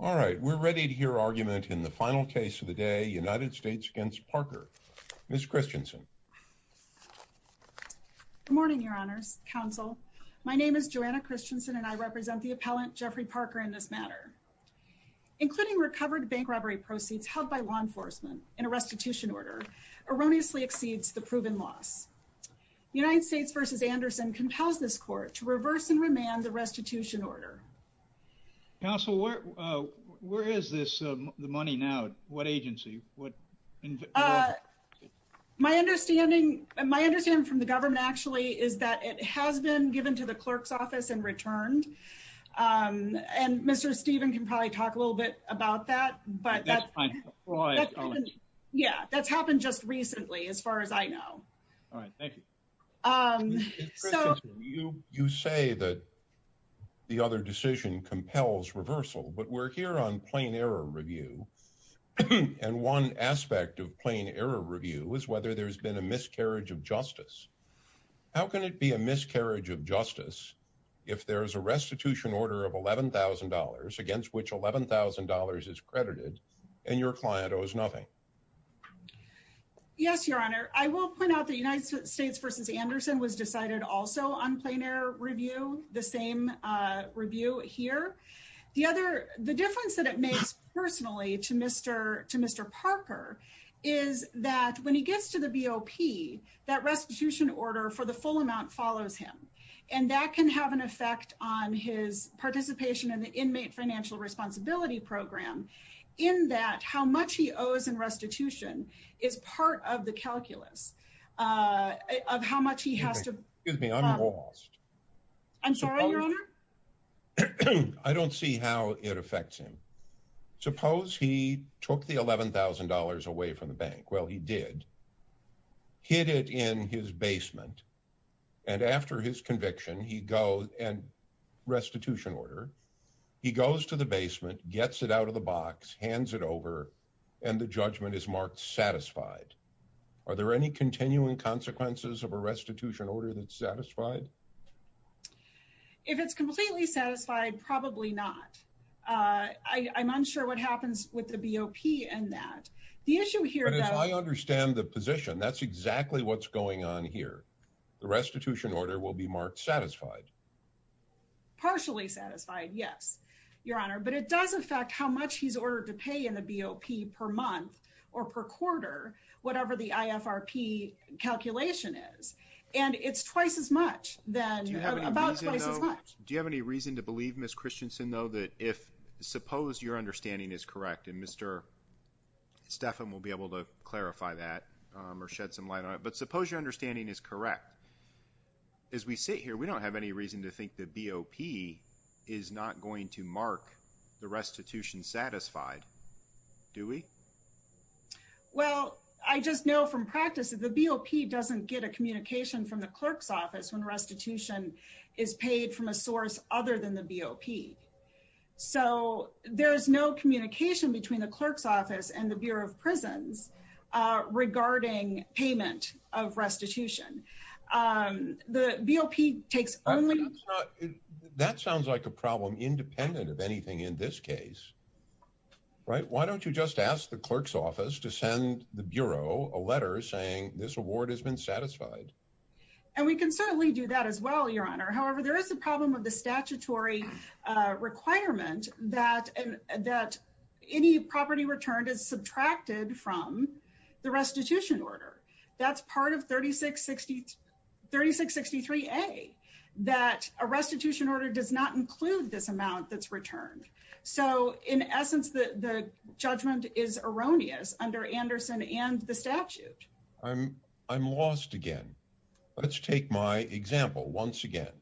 All right, we're ready to hear argument in the final case of the day, United States against Parker, Ms. Christensen. Good morning, your honors, counsel. My name is Joanna Christensen and I represent the appellant Jeffrey Parker in this matter. Including recovered bank robbery proceeds held by law enforcement in a restitution order erroneously exceeds the proven loss. United States v. Anderson compels this court to reverse and remand the restitution order. Counsel, where is this the money now, what agency, what? My understanding, my understanding from the government, actually, is that it has been given to the clerk's office and returned. And Mr. Stephen can probably talk a little bit about that, but. Yeah, that's happened just recently, as far as I know. All right, thank you. So you say that the other decision compels reversal, but we're here on plain error review. And one aspect of plain error review is whether there's been a miscarriage of justice. How can it be a miscarriage of justice if there is a restitution order of $11,000 against which $11,000 is credited and your client owes nothing? Yes, Your Honor, I will point out that United States v. Anderson was decided also on plain error review, the same review here. The other, the difference that it makes personally to Mr. Parker is that when he gets to the BOP, that restitution order for the full amount follows him. And that can have an effect on his participation in the inmate financial responsibility program in that how much he owes in restitution is part of the calculus of how much he has to. Excuse me, I'm lost. I'm sorry, Your Honor. I don't see how it affects him. Suppose he took the $11,000 away from the bank. Well, he did. Hid it in his basement. And after his conviction, he goes and restitution order, he goes to the basement, gets it out of the box, hands it over, and the judgment is marked satisfied. Are there any continuing consequences of a restitution order that's satisfied? If it's completely satisfied, probably not. I'm unsure what happens with the BOP and that. The issue here is I understand the position. That's exactly what's going on here. The restitution order will be marked satisfied. Partially satisfied, yes, Your Honor. But it does affect how much he's ordered to pay in the BOP per month or per quarter, whatever the IFRP calculation is. And it's twice as much then. Do you have any reason to believe, Ms. Stephan will be able to clarify that or shed some light on it. But suppose your understanding is correct. As we sit here, we don't have any reason to think the BOP is not going to mark the restitution satisfied, do we? Well, I just know from practice that the BOP doesn't get a communication from the clerk's office when restitution is paid from a source other than the BOP. So there is no communication between the clerk's office and the Bureau of Prisons regarding payment of restitution. The BOP takes only. That sounds like a problem independent of anything in this case. Right. Why don't you just ask the clerk's office to send the Bureau a letter saying this award has been satisfied? And we can certainly do that as well, Your Honor. However, there is a problem with the statutory requirement that any property returned is subtracted from the restitution order. That's part of 3663A, that a restitution order does not include this amount that's returned. So in essence, the judgment is erroneous under Anderson and the statute. I'm lost again. Let's take my example once again.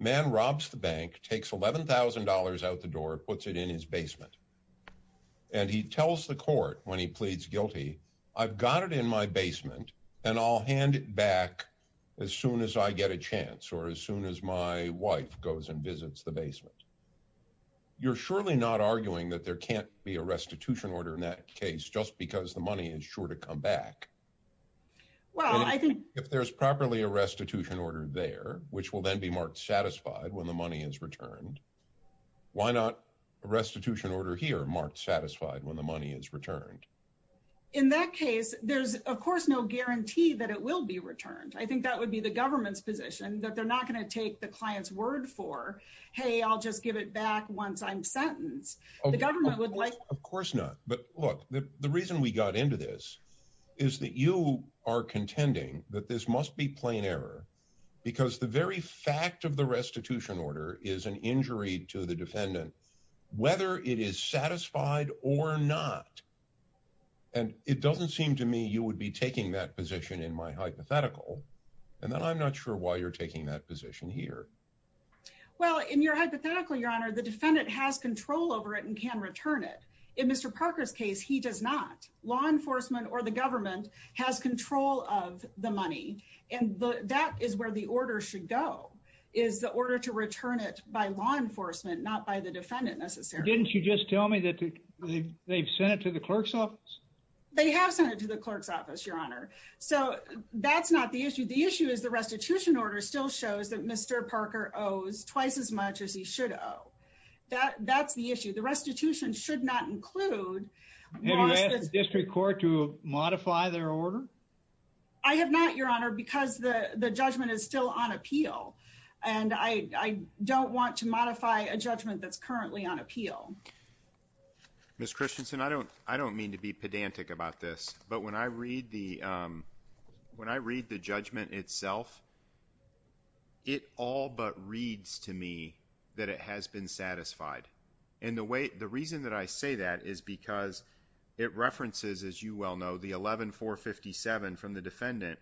Man robs the bank, takes $11,000 out the door, puts it in his basement. And he tells the court when he pleads guilty, I've got it in my basement and I'll hand it back as soon as I get a chance or as soon as my wife goes and visits the basement. You're surely not arguing that there can't be a restitution order in that case just because the money is sure to come back. Well, I think if there's properly a restitution order there, which will then be marked satisfied when the money is returned, why not a restitution order here marked satisfied when the money is returned? In that case, there's, of course, no guarantee that it will be returned. I think that would be the government's position that they're not going to take the client's word for, hey, I'll just give it back once I'm sentenced. The government would like, of course not. But look, the reason we got into this is that you are contending that this must be plain error because the very fact of the restitution order is an injury to the defendant, whether it is satisfied or not. And it doesn't seem to me you would be taking that position in my hypothetical, and then I'm not sure why you're taking that position here. Well, in your hypothetical, Your Honor, the defendant has control over it and can return it. In Mr. Parker's case, he does not. Law enforcement or the government has control of the money, and that is where the order should go, is the order to return it by law enforcement, not by the defendant necessarily. Didn't you just tell me that they've sent it to the clerk's office? They have sent it to the clerk's office, Your Honor. So that's not the issue. The issue is the restitution order still shows that Mr. Parker owes twice as much as he should owe. That's the issue. The restitution should not include. Have you asked the district court to modify their order? I have not, Your Honor, because the judgment is still on appeal and I don't want to modify a judgment that's currently on appeal. Ms. Christensen, I don't mean to be pedantic about this, but when I read the judgment itself, it all but reads to me that it has been satisfied. And the reason that I say that is because it references, as you well know, the 11-457 from the defendant,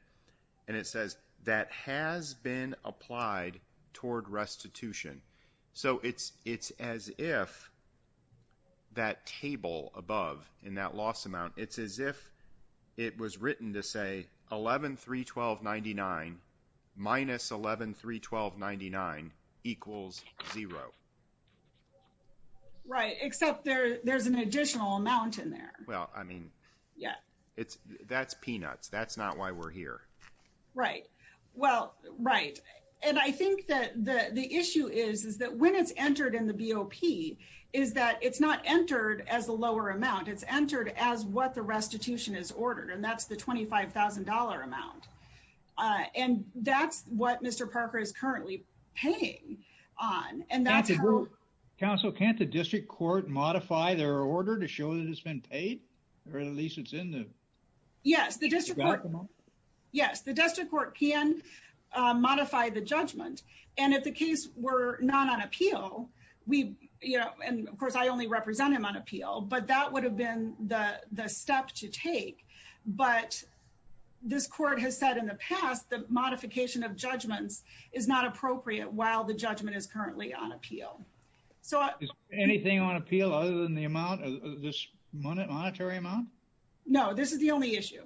and it says that has been applied toward restitution. So it's as if that table above in that loss amount, it's as if it was written to say 11-312-99 minus 11-312-99 equals zero. Right, except there's an additional amount in there. Well, I mean, yeah, that's peanuts. That's not why we're here. Right. Well, right. And I think that the issue is, is that when it's entered in the BOP, is that it's not entered as a lower amount. It's entered as what the restitution is ordered. And that's the $25,000 amount. And that's what Mr. Parker is currently paying on. And that's how. Counsel, can't the district court modify their order to show that it's been paid? Or at least it's in the. Yes, the district, yes, the district court can modify the judgment. And if the case were not on appeal, we, you know, and of course, I only represent him on appeal, but that would have been the step to take. But this court has said in the past, the modification of judgments is not appropriate while the judgment is currently on appeal. So anything on appeal other than the amount of this monetary amount? No, this is the only issue.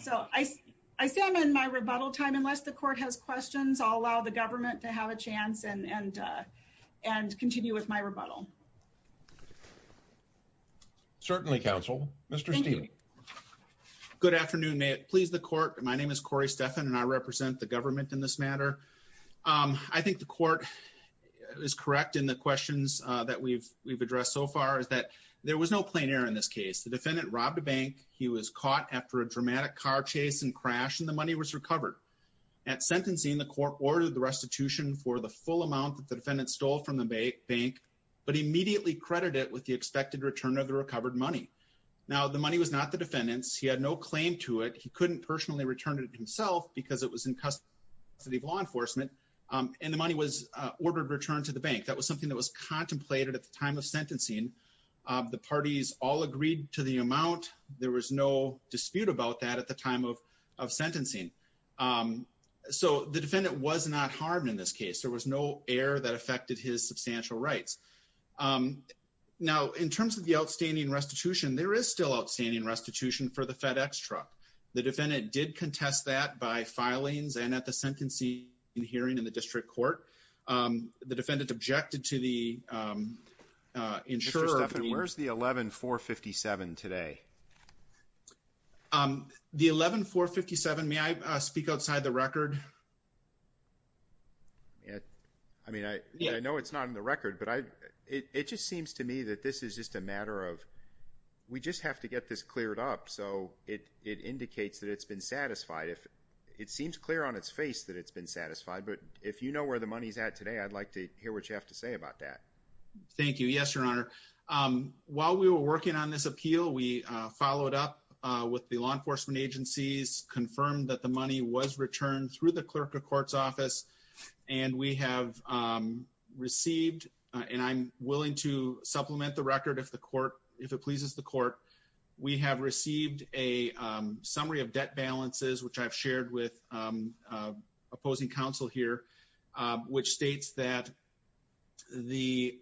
So I say I'm in my rebuttal time, unless the court has questions, I'll allow the government to have a chance and and and continue with my rebuttal. Certainly, counsel, Mr. Good afternoon, please. The court. My name is Corey Stephan and I represent the government in this matter. I think the court is correct in the questions that we've we've addressed so far is that there was no plein air in this case. The defendant robbed a bank. He was caught after a dramatic car chase and crash and the money was recovered. At sentencing, the court ordered the restitution for the full amount that the defendant stole from the bank, but immediately credited it with the expected return of the recovered money. Now, the money was not the defendant's. He had no claim to it. He couldn't personally return it himself because it was in custody of law enforcement and the money was ordered returned to the bank. That was something that was contemplated at the time of sentencing. The parties all agreed to the amount. There was no dispute about that at the time of of sentencing. So the defendant was not harmed in this case. There was no air that affected his substantial rights. Now, in terms of the outstanding restitution, there is still outstanding restitution for the FedEx truck. The defendant did contest that by filings and at the sentencing hearing in the district court, the defendant objected to the insurer. Where's the eleven four fifty seven today? The eleven four fifty seven. May I speak outside the record? I mean, I know it's not in the record, but it just seems to me that this is just a matter of we just have to get this cleared up. So it it indicates that it's been satisfied if it seems clear on its face that it's been satisfied. But if you know where the money's at today, I'd like to hear what you have to say about that. Thank you. Yes, your honor. While we were working on this appeal, we followed up with the law enforcement agencies, confirmed that the money was returned through the clerk of court's office. And we have received and I'm willing to supplement the record if the court if it pleases the court. We have received a summary of debt balances, which I've shared with opposing counsel here, which states that the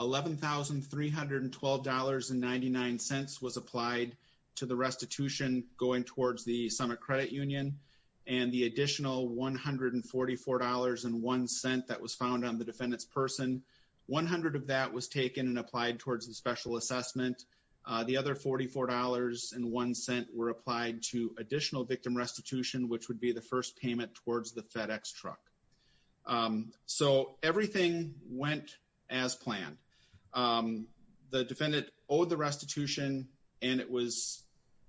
eleven thousand three hundred and twelve dollars and ninety nine cents was applied to the restitution going towards the summit credit union and the additional one hundred and forty four dollars and one cent that was found on the defendant's person. One hundred of that was taken and applied towards the special assessment. The other forty four dollars and one cent were applied to additional victim restitution, which would be the first payment towards the FedEx truck. So everything went as planned. The defendant owed the restitution and it was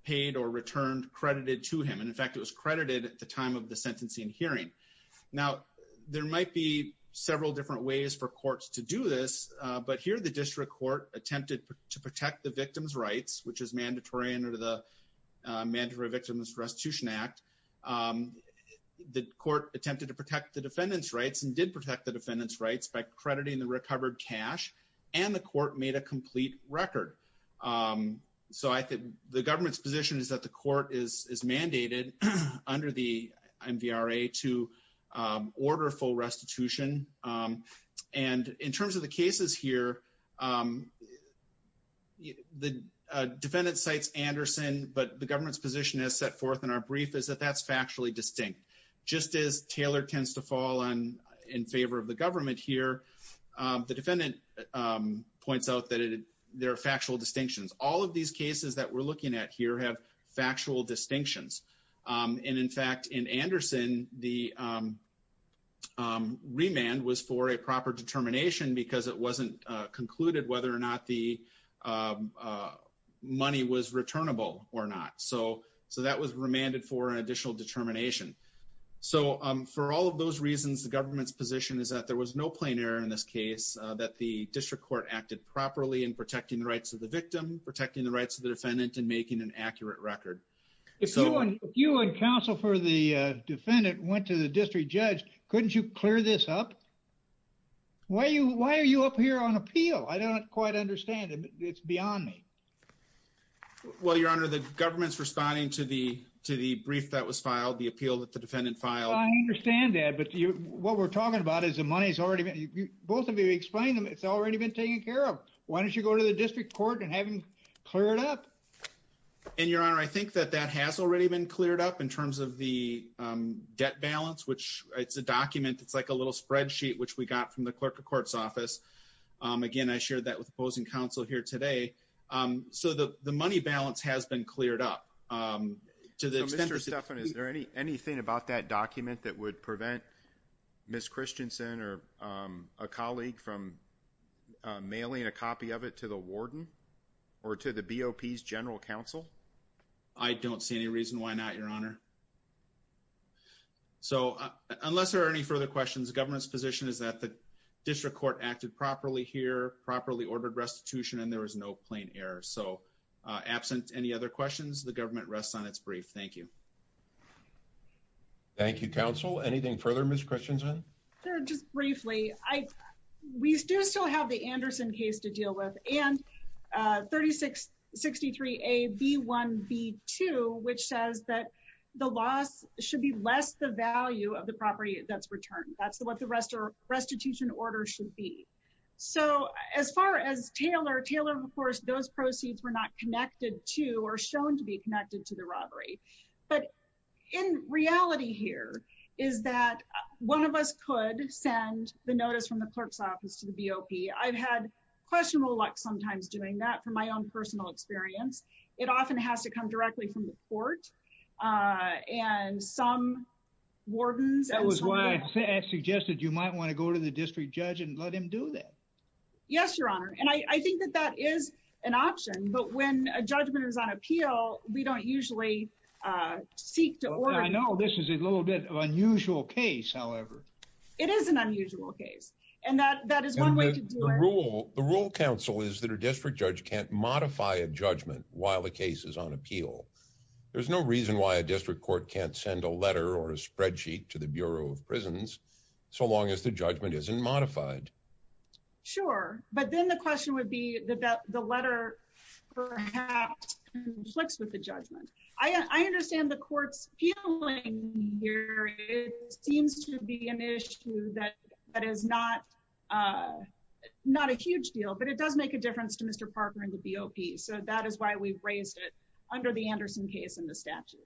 paid or returned credited to him. And in fact, it was credited at the time of the sentencing hearing. Now, there might be several different ways for courts to do this, but here the district court attempted to protect the victim's rights, which is mandatory under the Mandatory Victim Restitution Act. The court attempted to protect the defendant's rights and did protect the defendant's rights by crediting the recovered cash and the court made a complete record. So I think the government's position is that the court is mandated under the MVRA to order full restitution. And in terms of the cases here, the defendant cites Anderson, but the government's position is set forth in our brief is that that's factually distinct. Just as Taylor tends to fall in favor of the government here, the defendant points out that there are factual distinctions. All of these cases that we're looking at here have factual distinctions. And in fact, in Anderson, the remand was for a proper determination because it wasn't concluded whether or not the money was returnable or not. So so that was remanded for an additional determination. So for all of those reasons, the government's position is that there was no plain error in this case, that the district court acted properly in protecting the rights of the victim, protecting the rights of the defendant and making an accurate record. If you and counsel for the defendant went to the district judge, couldn't you clear this up? Why are you why are you up here on appeal? I don't quite understand. It's beyond me. Well, your honor, the government's responding to the to the brief that was filed, the appeal that the defendant filed. I understand that. But what we're talking about is the money's already both of you explain them. It's already been taken care of. Why don't you go to the district court and have him clear it up? And your honor, I think that that has already been cleared up in terms of the debt balance, which it's a document. It's like a little spreadsheet which we got from the clerk of court's office. Again, I shared that with opposing counsel here today. So the the money balance has been cleared up to the extent or Stefan. Is there any anything about that document that would prevent Miss Christensen or a colleague from mailing a copy of it to the warden or to the BOP's general counsel? I don't see any reason why not, your honor. So unless there are any further questions, the government's position is that the district court acted properly here, properly ordered restitution, and there was no plain error. So absent any other questions, the government rests on its brief. Thank you. Thank you, counsel. Anything further? Miss Christensen? Sir, just briefly, I we do still have the Anderson case to deal with and thirty six sixty three a B one B two, which says that there is no plain error. The loss should be less the value of the property that's returned. That's what the rest of restitution order should be. So as far as Taylor Taylor, of course, those proceeds were not connected to or shown to be connected to the robbery. But in reality here is that one of us could send the notice from the clerk's office to the BOP. I've had questionable luck sometimes doing that from my own personal experience. It often has to come directly from the court. And some wardens, that was why I suggested you might want to go to the district judge and let him do that. Yes, your honor. And I think that that is an option. But when a judgment is on appeal, we don't usually seek to or I know this is a little bit of unusual case. However, it is an unusual case. And that that is one way to rule. The rule counsel is that a district judge can't modify a judgment while the case is on appeal. There's no reason why a district court can't send a letter or a spreadsheet to the Bureau of Prisons so long as the judgment isn't modified. Sure, but then the question would be that the letter perhaps conflicts with the judgment. I understand the court's feeling here. It seems to be an issue that that is not not a huge deal, but it does make a difference to Mr. Parker and the BOP. So that is why we've raised it under the Anderson case in the statute.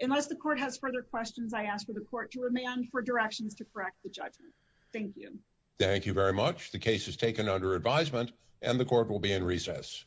Unless the court has further questions, I ask for the court to remand for directions to correct the judgment. Thank you. Thank you very much. The case is taken under advisement and the court will be in recess.